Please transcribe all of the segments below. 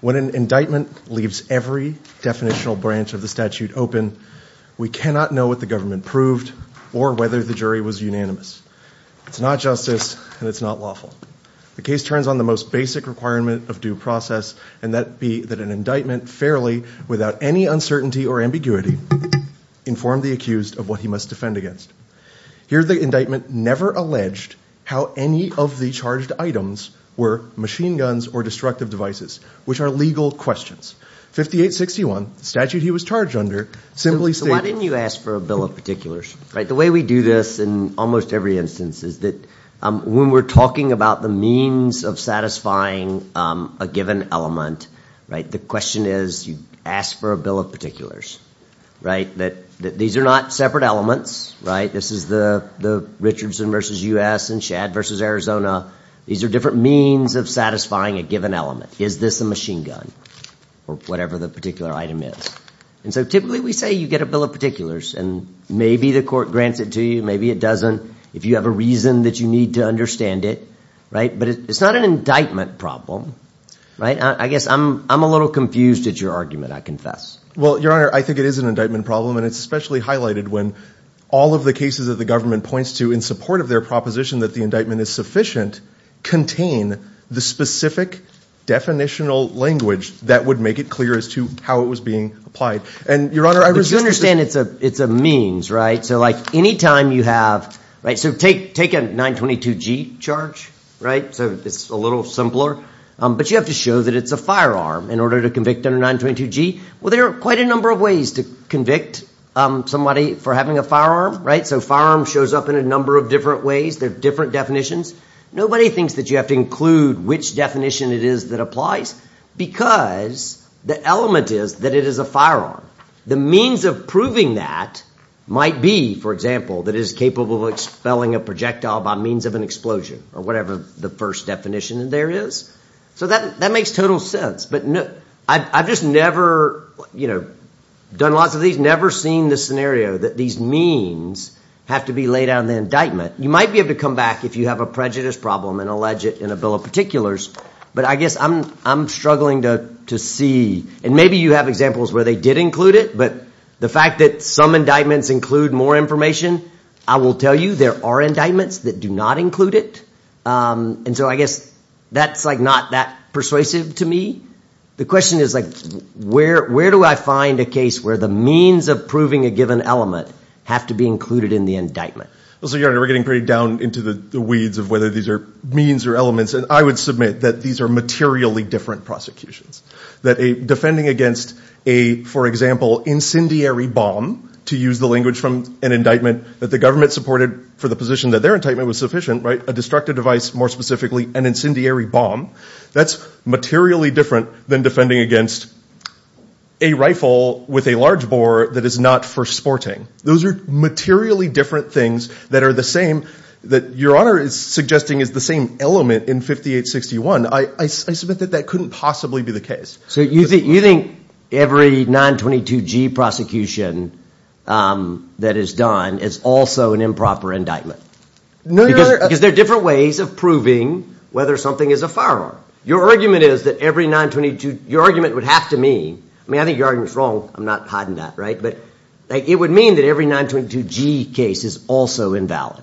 When an indictment leaves every definitional branch of the statute open, we cannot know what the government proved or whether the jury was unanimous. It's not justice and it's not lawful. The case turns on the most basic requirement of due process, and that be that an indictment, fairly, without any uncertainty or ambiguity, inform the accused of what he must defend against. Here the indictment never alleged how any of the charged items were machine guns or destructive devices, which are legal questions. 5861, the statute he was charged under, simply stated. When you ask for a bill of particulars, the way we do this in almost every instance is that when we're talking about the means of satisfying a given element, the question is you ask for a bill of particulars. These are not separate elements. This is the Richardson v. U.S. and Shad v. Arizona. These are different means of satisfying a given element. Is this a machine gun or whatever the particular item is? Typically we say you get a bill of particulars and maybe the court grants it to you, maybe it doesn't, if you have a reason that you need to understand it. It's not an indictment problem. I guess I'm a little confused at your argument, I confess. Patrick Adamiak Your Honor, I think it is an indictment problem and it's especially highlighted when all of the cases that the government points to in support of their proposition that the indictment is sufficient, contain the specific definitional language that would make it clear as to how it was being applied. Your Honor, I resist Richardson You understand it's a means, right? So like any time you have, so take a 922G charge, right? So it's a little simpler. But you have to show that it's a firearm in order to convict under 922G. Well, there are quite a number of ways to convict somebody for having a firearm, right? So a firearm shows up in a number of different ways, there are different definitions. Nobody thinks that you have to include which definition it is that applies because the element is that it is a firearm. The means of proving that might be, for example, that it is capable of expelling a projectile by means of an explosion or whatever the first definition there is. So that makes total sense. But I've just never, you know, done lots of these, never seen the scenario that these means have to be laid out in the indictment. You might be able to come back if you have a prejudice problem and allege it in a bill of particulars, but I guess I'm struggling to see, and maybe you have examples where they did include it, but the fact that some indictments include more information, I will tell you there are indictments that do not include it. And so I guess that's like not that persuasive to me. The question is like, where do I find a case where the means of proving a given element have to be included in the indictment? So, Your Honor, we're getting pretty down into the weeds of whether these are means or elements, and I would submit that these are materially different prosecutions. That defending against a, for example, incendiary bomb, to use the language from an indictment that the government supported for the position that their indictment was sufficient, right, a destructive device more specifically, an incendiary bomb, that's materially different than defending against a rifle with a large bore that is not for sporting. Those are materially different things that are the same, that Your Honor is suggesting is the same element in 5861. I submit that that couldn't possibly be the case. So you think every 922G prosecution that is done is also an improper indictment? No, Your Honor. Because there are different ways of proving whether something is a firearm. Your argument is that every 922, your argument would have to mean, I mean I think your argument is wrong, I'm not hiding that, right, but it would mean that every 922G case is also invalid.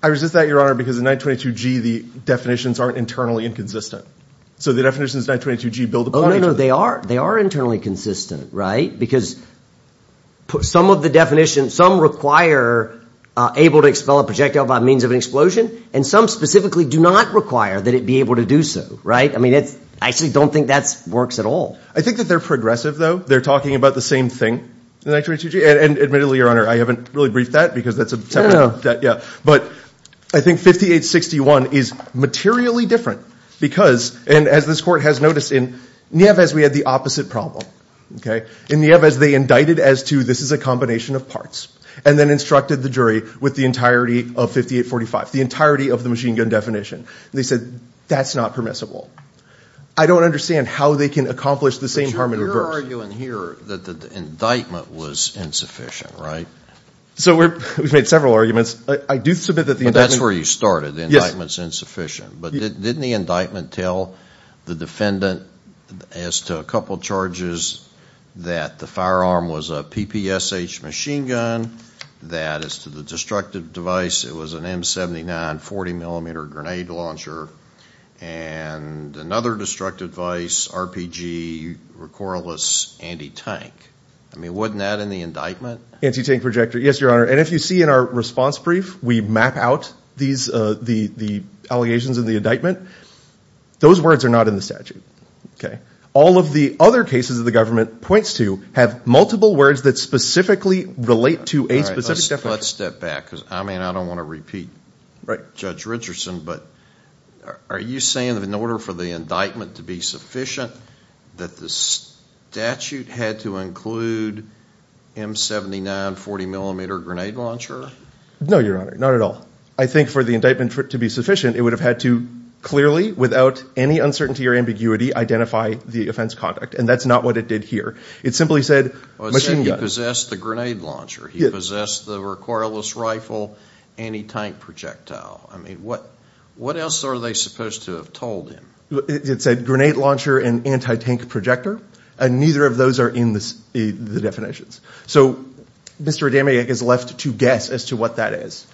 I resist that, Your Honor, because in 922G the definitions aren't internally inconsistent. So the definitions in 922G build upon each other. Oh, no, no, they are, they are internally consistent, right, because some of the definitions, some require able to expel a projectile by means of an explosion, and some specifically do not require that it be able to do so, right? I mean, I actually don't think that works at all. I think that they're progressive, though. They're talking about the same thing in 922G, and admittedly, Your Honor, I haven't really briefed that because that's a separate, yeah, but I think 5861 is materially different because, and as this Court has noticed, in Nieves we had the opposite problem, okay? In Nieves they indicted as to this is a combination of parts, and then instructed the jury with the entirety of 5845, the entirety of the machine gun definition, and they said, that's not permissible. I don't understand how they can accomplish the same harm in reverse. But you're arguing here that the indictment was insufficient, right? So we've made several arguments. I do submit that the indictment... But that's where you started, the indictment's insufficient. But didn't the indictment tell the defendant as to a couple charges that the firearm was a PPSH machine gun, that as to the destructive device, it was an M79 40mm grenade launcher, and another destructive device, RPG, recorreless anti-tank. I mean, wasn't that in the indictment? Anti-tank projector, yes, Your Honor. And if you see in our response brief, we map out the allegations in the indictment. Those words are not in the statute, okay? All of the other cases that the government points to have multiple words that specifically relate to a specific Let's step back, because I mean, I don't want to repeat Judge Richardson, but are you saying that in order for the indictment to be sufficient, that the statute had to include M79 40mm grenade launcher? No, Your Honor, not at all. I think for the indictment to be sufficient, it would have had to clearly, without any uncertainty or ambiguity, identify the offense conduct. And that's not what it did here. It simply said, machine gun. He possessed the grenade launcher. He possessed the recorreless rifle, anti-tank projectile. I mean, what else are they supposed to have told him? It said grenade launcher and anti-tank projector, and neither of those are in the definitions. So Mr. Adamiak is left to guess as to what that is.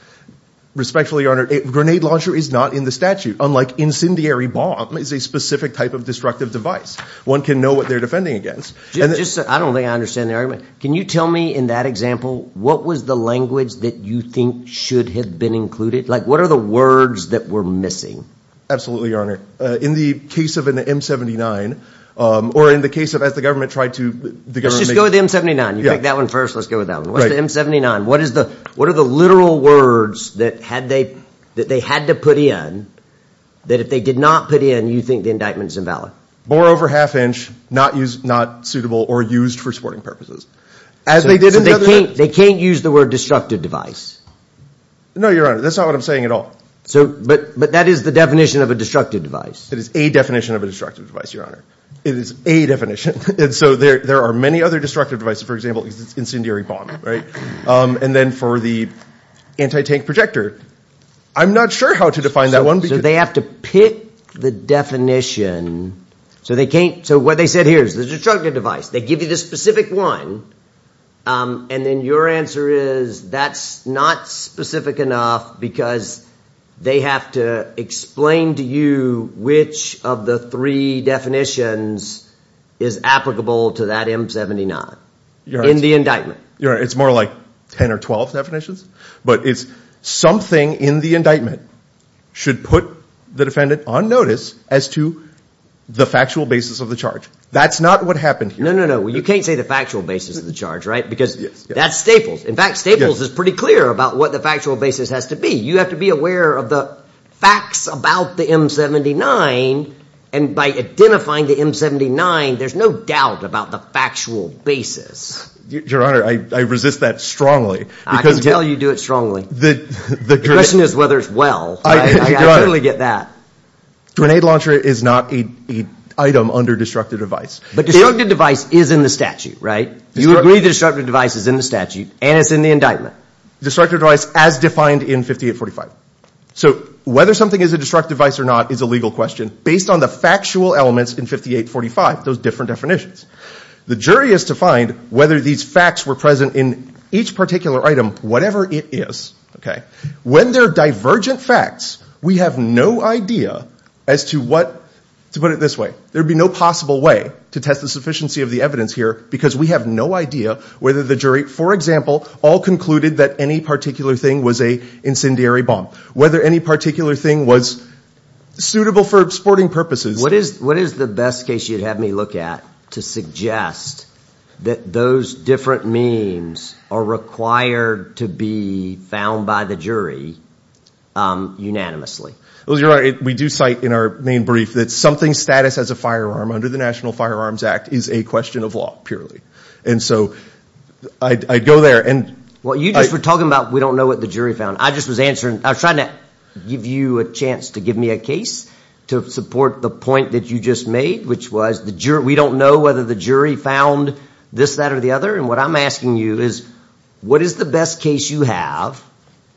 Respectfully, Your Honor, grenade launcher is not in the statute, unlike incendiary bomb is a specific type of destructive device. One can know what they're defending against. I don't think I understand the argument. Can you tell me in that example, what was the language that you think should have been included? Like, what are the words that were missing? Absolutely, Your Honor. In the case of an M79, or in the case of as the government tried to... Let's just go with the M79. You picked that one first. Let's go with that one. What's the M79? What are the literal words that they had to put in, that if they did not put in, you think the indictment is invalid? Bore over half inch, not suitable or used for sporting purposes. They can't use the word destructive device. No, Your Honor. That's not what I'm saying at all. But that is the definition of a destructive device. It is a definition of a destructive device, Your Honor. It is a definition. And so there are many other destructive devices. For example, incendiary bomb, right? And then for the anti-tank projector, I'm not sure how to define that one. So they have to pick the definition. So what they said here is there's a destructive device. They give you the specific one. And then your answer is that's not specific enough because they have to explain to you which of the three definitions is applicable to that M79 in the indictment. Your Honor, it's more like 10 or 12 definitions. But it's something in the indictment should put the defendant on notice as to the factual basis of the charge. That's not what happened here. No, no, no. You can't say the factual basis of the charge, right? Because that's Staples. In fact, Staples is pretty clear about what the factual basis has to be. You have to be aware of the facts about the M79. And by identifying the M79, there's no doubt about the factual basis. Your Honor, I resist that strongly. I can tell you do it strongly. The question is whether it's well. I totally get that. Grenade launcher is not an item under destructive device. But destructive device is in the statute, right? You agree the destructive device is in the statute and it's in the indictment. Destructive device as defined in 5845. So whether something is a destructive device or not is a legal question based on the factual elements in 5845, those different definitions. The jury is to find whether these facts were present in each particular item, whatever it is. Okay? When they're divergent facts, we have no idea as to what, to put it this way, there'd be no possible way to test the sufficiency of the evidence here because we have no idea whether the jury, for example, all concluded that any particular thing was a incendiary bomb. Whether any particular thing was suitable for sporting purposes. What is the best case you'd have me look at to suggest that those different means are required to be found by the jury unanimously? We do cite in our main brief that something's status as a firearm under the National Firearms Act is a question of law, purely. And so I'd go there and... Well, you just were talking about we don't know what the jury found. I just was answering. I was trying to give you a chance to give me a case to support the point that you just made, which was we don't know whether the jury found this, that, or the other. And what I'm asking you is what is the best case you have,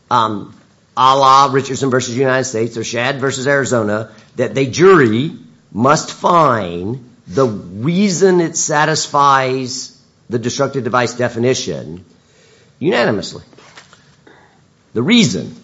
a la Richardson versus United States or Shad versus Arizona, that the jury must find the reason it satisfies the destructive device definition unanimously? The reason...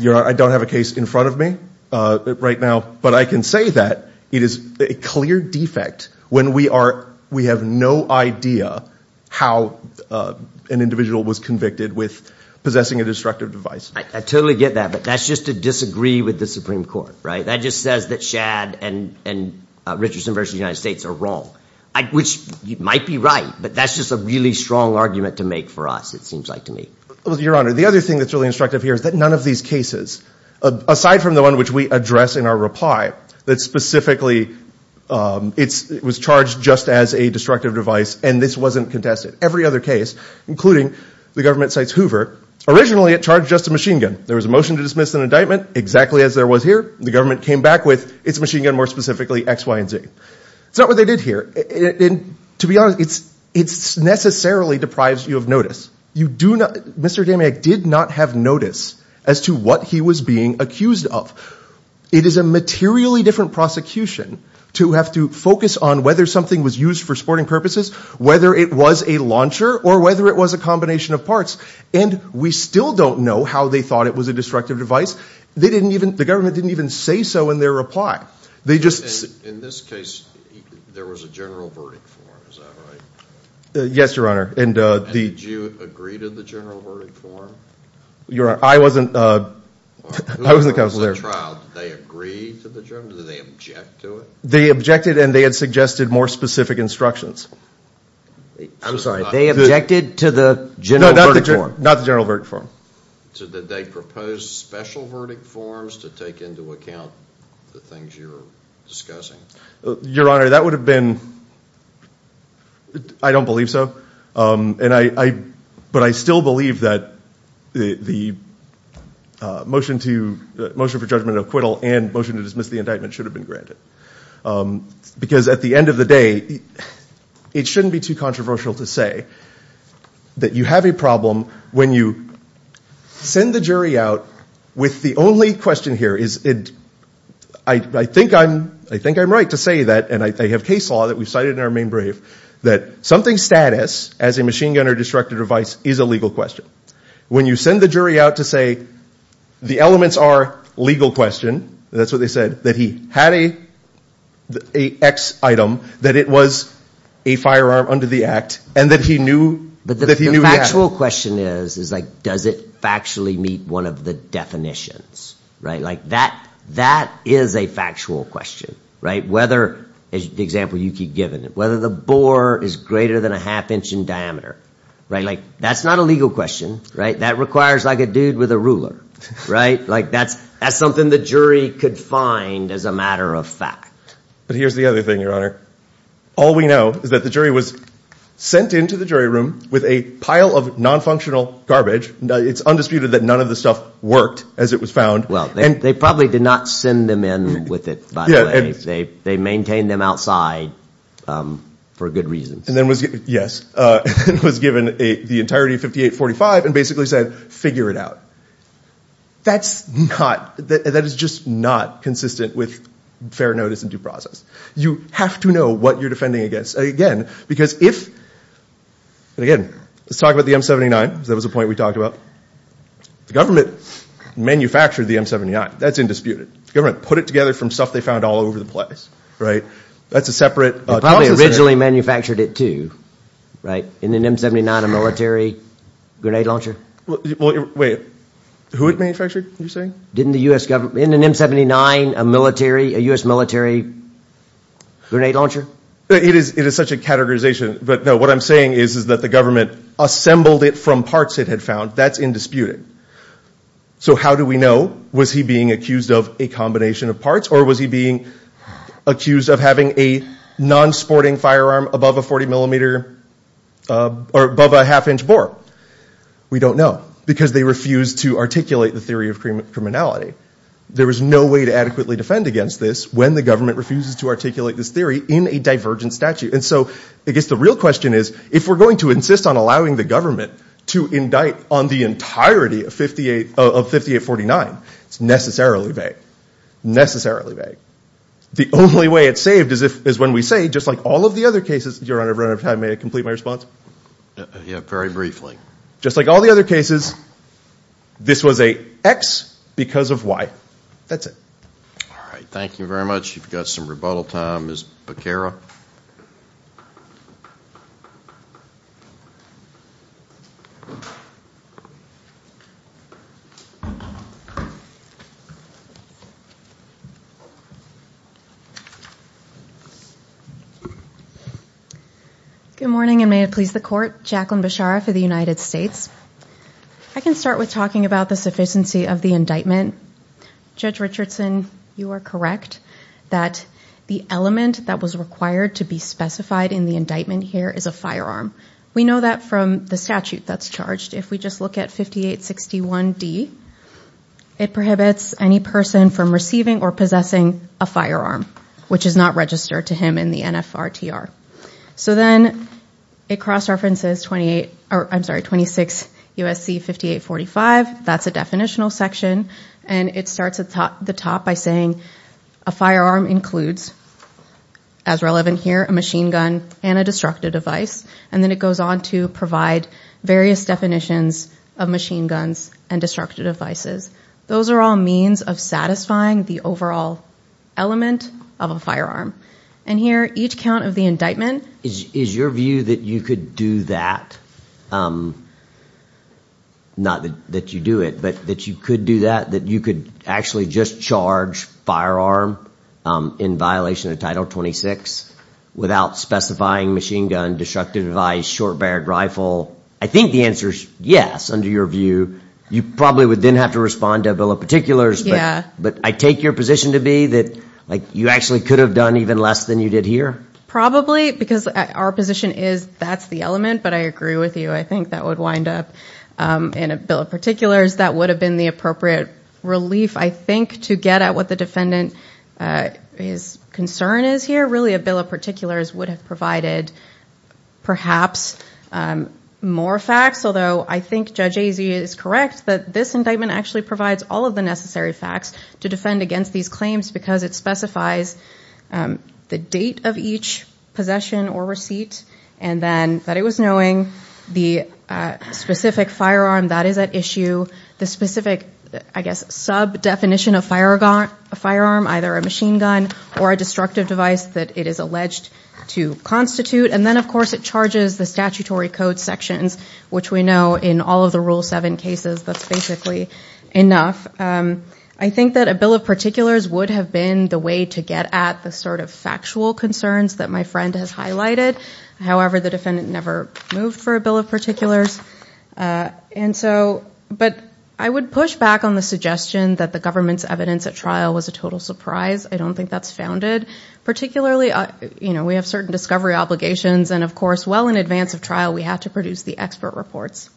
I don't have a case in front of me right now, but I can say that it is a clear defect when we have no idea how an individual was convicted with possessing a destructive device. I totally get that, but that's just to disagree with the Supreme Court, right? That just says that Shad and Richardson versus United States are wrong, which might be right, but that's just a really strong argument to make for us, it seems like to me. Your Honor, the other thing that's really instructive here is that none of these cases, aside from the one which we address in our reply, that specifically it was charged just as a destructive device and this wasn't contested. Every other case, including the government cites Hoover, originally it charged just a machine gun. There was a motion to dismiss an indictment, exactly as there was here. The government came back with, it's a machine gun more specifically, X, Y, and Z. It's not what they did here. To be honest, it necessarily deprives you of notice. You do not, Mr. Demyak did not have notice as to what he was being accused of. It is a materially different prosecution to have to focus on whether something was used for sporting purposes, whether it was a launcher, or whether it was a combination of parts. We still don't know how they thought it was a destructive device. The government didn't even say so in their reply. In this case, there was a general verdict form, is that right? Yes, Your Honor. Did you agree to the general verdict form? Your Honor, I wasn't the counsel there. Who wrote the trial? Did they agree to the general, did they object to it? They objected and they had suggested more specific instructions. I'm sorry, they objected to the general verdict form? No, not the general verdict form. Did they propose special verdict forms to take into account the things you're discussing? Your Honor, that would have been, I don't believe so. But I still believe that the motion for judgment and acquittal and motion to dismiss the indictment should have been granted. Because at the end of the day, it shouldn't be too controversial to say that you have a problem when you send the jury out with the only question here, I think I'm right to say that, and I have case law that we've cited in our main brief, that something's status as a machine gun or destructive device is a legal question. When you send the jury out to say the elements are legal question, that's what they said, that he had an X item, that it was a firearm under the act, and that he knew the act. But the factual question is, does it factually meet one of the definitions? That is a factual question. Whether, the example you keep giving, whether the bore is greater than a half inch in diameter. That's not a legal question. That requires a dude with a ruler. That's something the jury could find as a matter of fact. But here's the other thing, Your Honor. All we know is that the jury was sent into the jury room with a pile of non-functional garbage. It's undisputed that none of the stuff worked as it was found. Well, they probably did not send them in with it, by the way. They maintained them outside for good reasons. And then was given, yes, was given the entirety of 5845 and basically said, figure it out. That's not, that is just not consistent with fair notice and due process. You have to know what you're defending against. Again, because if, and again, let's talk about the M79. That was a point we talked about. The government manufactured the M79. That's undisputed. The government put it together from stuff they found all over the place, right? That's a separate consensus. They probably originally manufactured it too, right? In an M79, a military grenade launcher? Wait, who it manufactured, you're saying? Didn't the U.S. government, in an M79, a military, a U.S. military grenade launcher? It is such a categorization. But no, what I'm saying is that the government assembled it from parts it had found. That's indisputed. So how do we know? Was he being accused of a combination of parts? Or was he being accused of having a non-sporting firearm above a 40 millimeter, or above a half-inch bore? We don't know. Because they refused to articulate the theory of criminality. There was no way to adequately defend against this when the government refuses to articulate this theory in a divergent statute. And so, I guess the real question is, if we're going to insist on allowing the government to indict on the entirety of 5849, it's necessarily vague. Necessarily vague. The only way it's saved is when we say, just like all of the other cases, Your Honor, may I complete my response? Yeah, very briefly. Just like all the other cases, this was a X because of Y. That's it. All right. Thank you very much. You've got some rebuttal time. Ms. Becerra. Good morning, and may it please the Court. Jacqueline Becerra for the United States. I can start with talking about the sufficiency of the indictment. Judge Richardson, you are correct that the element that was required to be specified in the indictment here is a firearm. We know that from the statute that's charged. If we just look at 5861D, it appears that the firearm is a firearm. It prohibits any person from receiving or possessing a firearm, which is not registered to him in the NFRTR. Then it cross-references 26 U.S.C. 5845. That's a definitional section. It starts at the top by saying a firearm includes, as relevant here, a machine gun and a destructive device. Then it goes on to provide various definitions of machine guns and destructive devices. Those are all means of satisfying the overall element of a firearm. Here, each count of the indictment. Is your view that you could do that? Not that you do it, but that you could do that, that you could actually just charge firearm in violation of Title 26 without specifying machine gun, destructive device, short-barreled rifle? I think the answer is yes, under your view. You probably would then have to respond to a bill of particulars, but I take your position to be that you actually could have done even less than you did here? Probably, because our position is that's the element, but I agree with you. I think that would wind up in a bill of particulars. That would have been the appropriate relief, I think, to get at what the defendant's concern is here. I don't think really a bill of particulars would have provided perhaps more facts, although I think Judge Azia is correct that this indictment actually provides all of the necessary facts to defend against these claims because it specifies the date of each possession or receipt, and then that it was knowing the specific firearm that is at issue, the specific, I guess, sub-definition of firearm, either a machine gun or a destructive device that it is alleged to constitute, and then, of course, it charges the statutory code sections, which we know in all of the Rule 7 cases that's basically enough. I think that a bill of particulars would have been the way to get at the sort of factual concerns that my friend has highlighted. However, the defendant never moved for a bill of particulars. But I would push back on the suggestion that the government's evidence at trial was a total surprise. I don't think that's founded. Particularly, you know, we have certain discovery obligations, and of course well in advance of trial we have to produce the expert reports.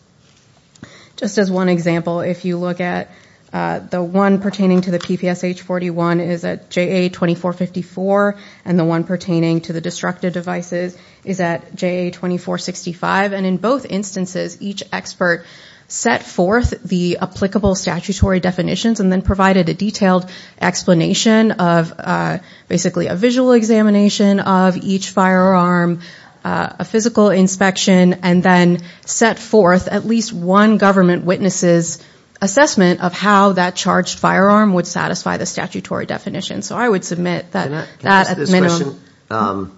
Just as one example, if you look at the one pertaining to the PPSH-41 is at JA-2454, and the one pertaining to the destructive devices is at JA-2465, and in both instances each expert set forth the applicable statutory definitions and then provided a detailed explanation of basically a visual examination of each firearm, a physical inspection, and then set forth at least one government witness' assessment of how that charged firearm would satisfy the statutory definition. So I would submit that at minimum. Can I ask this question?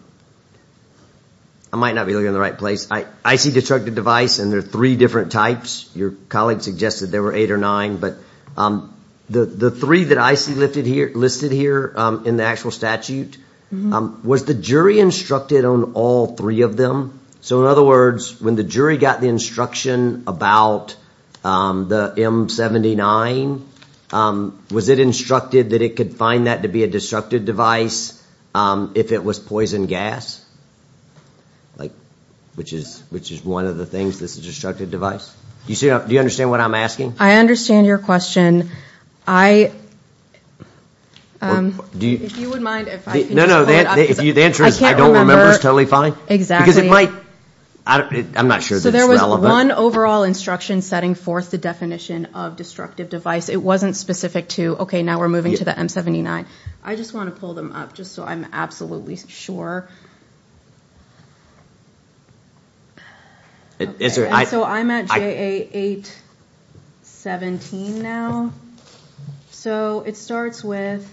I might not be looking in the right place. I see destructive device, and there are three different types. Your colleague suggested there were eight or nine, but the three that I see listed here in the actual statute, was the jury instructed on all three of them? So in other words, when the jury got the instruction about the M-79, was it instructed that it could find that to be a destructive device if it was poison gas, which is one of the things that's a destructive device? Do you understand what I'm asking? I understand your question. If you wouldn't mind, if I could just pull it up. No, no, the answer is I don't remember is totally fine. Exactly. Because it might, I'm not sure that it's relevant. So there was one overall instruction setting forth the definition of destructive device. It wasn't specific to, okay, now we're moving to the M-79. I just want to pull them up just so I'm absolutely sure. So I'm at JA-817 now. So it starts with,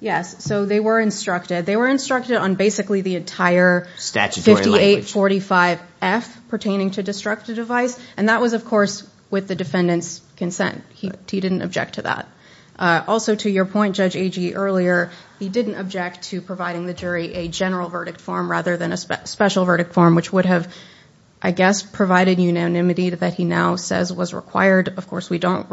yes, so they were instructed. They were instructed on basically the entire 5845F pertaining to destructive device, and that was, of course, with the defendant's consent. He didn't object to that. Also, to your point, Judge Agee, earlier, he didn't object to providing the jury a general verdict form rather than a special verdict form, which would have, I guess, provided unanimity that he now says was required. Of course, we don't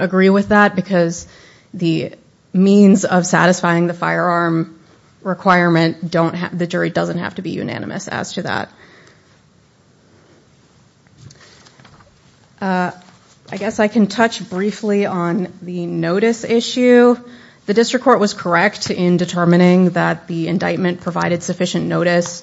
agree with that because the means of satisfying the firearm requirement, the jury doesn't have to be unanimous as to that. I guess I can touch briefly on the notice issue. The district court was correct in determining that the indictment provided sufficient notice.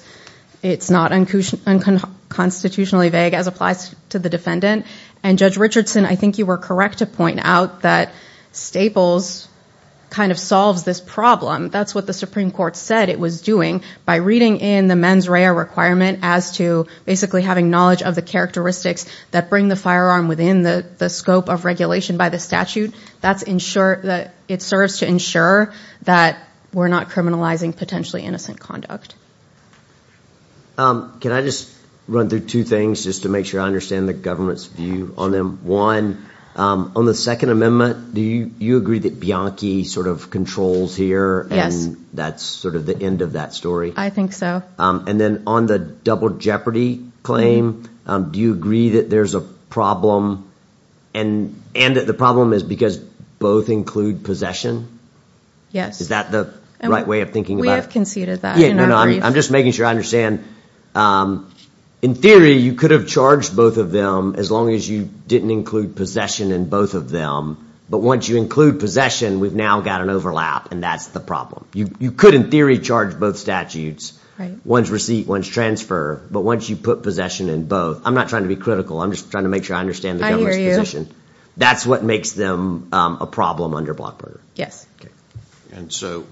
It's not unconstitutionally vague as applies to the defendant. And, Judge Richardson, I think you were correct to point out that Staples kind of solves this problem. That's what the Supreme Court said it was doing. By reading in the mens rea requirement as to basically having knowledge of the characteristics that bring the firearm within the scope of regulation by the statute, it serves to ensure that we're not criminalizing potentially innocent conduct. Can I just run through two things just to make sure I understand the government's view on them? On the Second Amendment, do you agree that Bianchi sort of controls here and that's sort of the end of that story? I think so. And then on the double jeopardy claim, do you agree that there's a problem and that the problem is because both include possession? Yes. Is that the right way of thinking about it? We have conceded that. I'm just making sure I understand. In theory, you could have charged both of them as long as you didn't include possession in both of them. But once you include possession, we've now got an overlap, and that's the problem. You could, in theory, charge both statutes, one's receipt, one's transfer. But once you put possession in both, I'm not trying to be critical. I'm just trying to make sure I understand the government's position. That's what makes them a problem under block burner. Yes. And so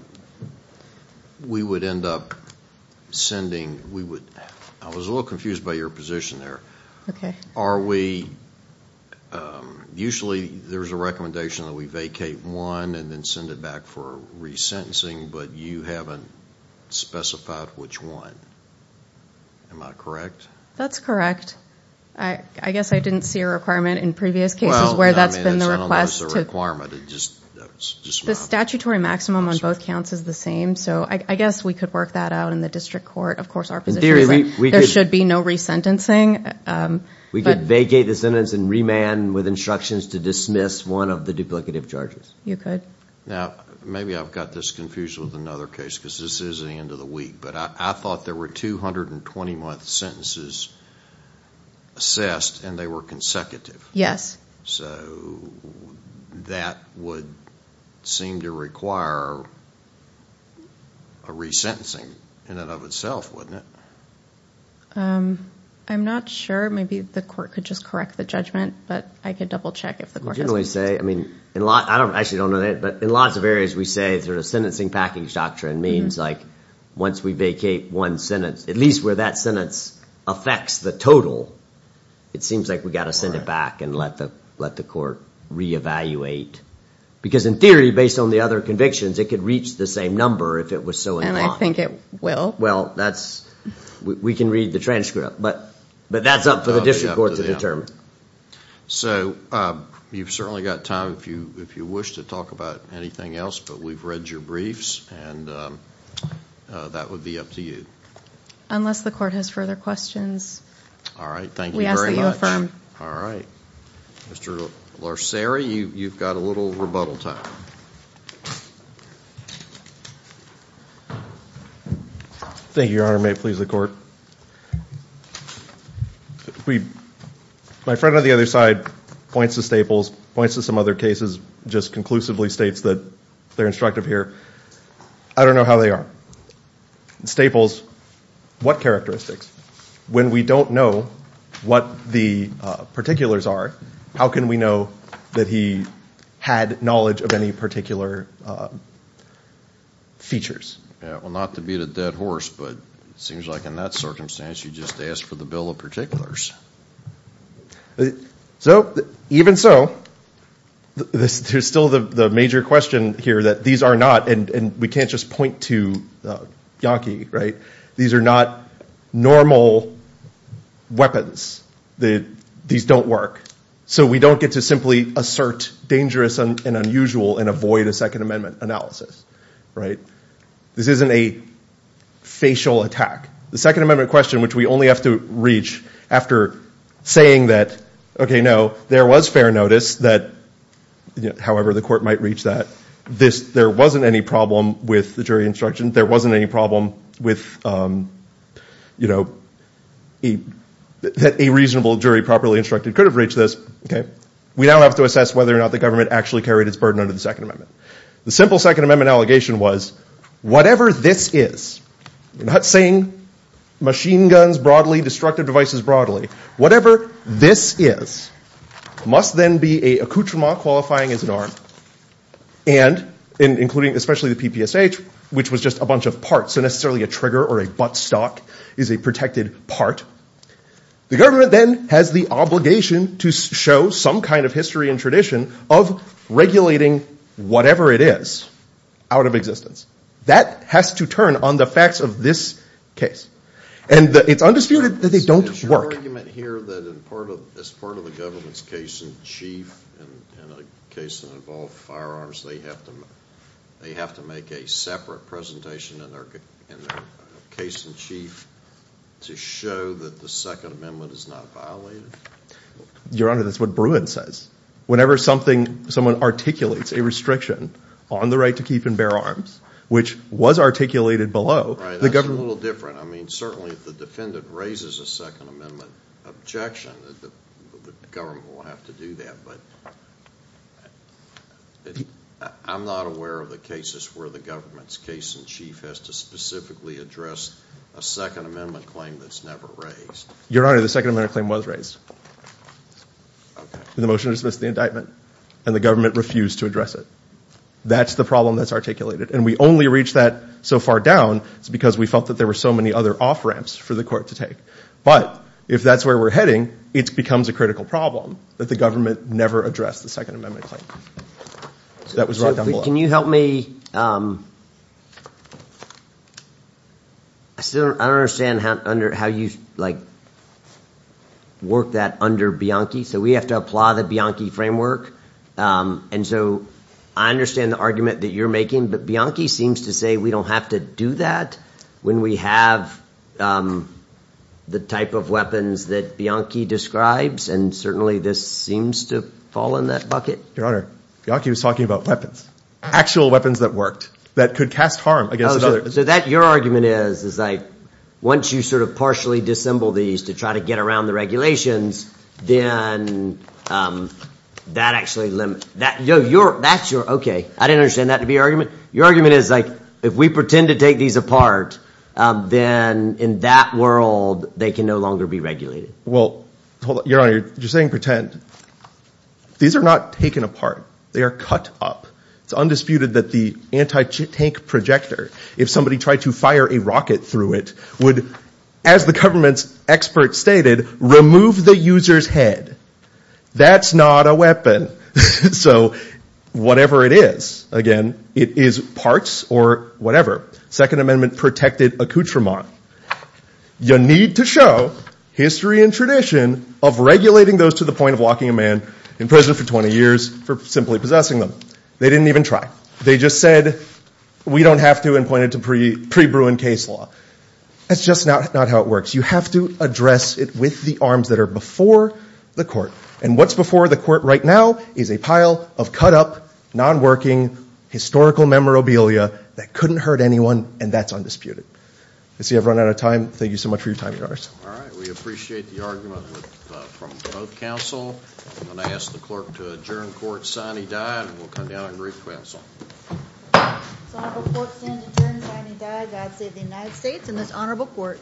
we would end up sending, we would, I was a little confused by your position there. Okay. Are we, usually there's a recommendation that we vacate one and then send it back for resentencing, but you haven't specified which one. Am I correct? That's correct. I guess I didn't see a requirement in previous cases where that's been the request. The statutory maximum on both counts is the same. So I guess we could work that out in the district court. Of course, our position is that there should be no resentencing. We could vacate the sentence and remand with instructions to dismiss one of the duplicative charges. You could. Now, maybe I've got this confused with another case because this is the end of the week. But I thought there were 220-month sentences assessed, and they were consecutive. Yes. So that would seem to require a resentencing in and of itself, wouldn't it? I'm not sure. Maybe the court could just correct the judgment. But I could double check if the court doesn't. We generally say, I mean, I actually don't know that. But in lots of areas we say sort of sentencing package doctrine means like once we vacate one sentence, at least where that sentence affects the total, it seems like we've got to send it back and let the court reevaluate. Because in theory, based on the other convictions, it could reach the same number if it was so inclined. And I think it will. Well, we can read the transcript. But that's up for the district court to determine. So you've certainly got time if you wish to talk about anything else. But we've read your briefs, and that would be up to you. Unless the court has further questions. All right. Thank you very much. All right. Mr. Larceri, you've got a little rebuttal time. Thank you, Your Honor. May it please the court. My friend on the other side points to Staples, points to some other cases, just conclusively states that they're instructive here. I don't know how they are. Staples, what characteristics? When we don't know what the particulars are, how can we know that he had knowledge of any particular features? Well, not to beat a dead horse, but it seems like in that circumstance, you just asked for the bill of particulars. So even so, there's still the major question here that these are not, and we can't just point to Yankee, right? These are not normal weapons. These don't work. So we don't get to simply assert dangerous and unusual and avoid a Second Amendment analysis, right? This isn't a facial attack. The Second Amendment question, which we only have to reach after saying that, okay, no, there was fair notice that, however the court might reach that, there wasn't any problem with the jury instruction, there wasn't any problem with, you know, that a reasonable jury properly instructed could have reached this, we now have to assess whether or not the government actually carried its burden under the Second Amendment. The simple Second Amendment allegation was, whatever this is, we're not saying machine guns broadly, destructive devices broadly, whatever this is must then be a accoutrement qualifying as an arm, and including especially the PPSH, which was just a bunch of parts, so necessarily a trigger or a buttstock is a protected part. The government then has the obligation to show some kind of history and tradition of regulating whatever it is out of existence. That has to turn on the facts of this case. And it's undisputed that they don't work. Is there an argument here that as part of the government's case in chief in a case that involved firearms, they have to make a separate presentation in their case in chief to show that the Second Amendment is not violated? Your Honor, that's what Bruin says. Whenever someone articulates a restriction on the right to keep and bear arms, which was articulated below, the government… Right, that's a little different. I mean, certainly if the defendant raises a Second Amendment objection, the government will have to do that. But I'm not aware of the cases where the government's case in chief has to specifically address a Second Amendment claim that's never raised. Your Honor, the Second Amendment claim was raised. Okay. In the motion to dismiss the indictment, and the government refused to address it. That's the problem that's articulated. And we only reached that so far down because we felt that there were so many other off-ramps for the court to take. But if that's where we're heading, it becomes a critical problem that the government never addressed the Second Amendment claim. That was right down below. Can you help me? I still don't understand how you work that under Bianchi. So we have to apply the Bianchi framework. And so I understand the argument that you're making, but Bianchi seems to say we don't have to do that when we have the type of weapons that Bianchi describes, and certainly this seems to fall in that bucket. Your Honor, Bianchi was talking about weapons, actual weapons that worked, that could cast harm against another. So that, your argument is, is like once you sort of partially disassemble these to try to get around the regulations, then that actually limits. Okay, I didn't understand that to be your argument. Your argument is like if we pretend to take these apart, then in that world they can no longer be regulated. Well, your Honor, you're saying pretend. These are not taken apart. They are cut up. It's undisputed that the anti-tank projector, if somebody tried to fire a rocket through it, would, as the government's expert stated, remove the user's head. That's not a weapon. So whatever it is, again, it is parts or whatever. Second Amendment protected accoutrement. You need to show history and tradition of regulating those to the point of locking a man in prison for 20 years for simply possessing them. They didn't even try. They just said we don't have to and pointed to pre-Bruin case law. That's just not how it works. You have to address it with the arms that are before the court. And what's before the court right now is a pile of cut-up, non-working, historical memorabilia that couldn't hurt anyone, and that's undisputed. I see I've run out of time. Thank you so much for your time, Your Honors. All right, we appreciate the argument from both counsel. I'm going to ask the clerk to adjourn court sine die and we'll come down and re-counsel. This honorable court stands adjourned sine die. God save the United States and this honorable court.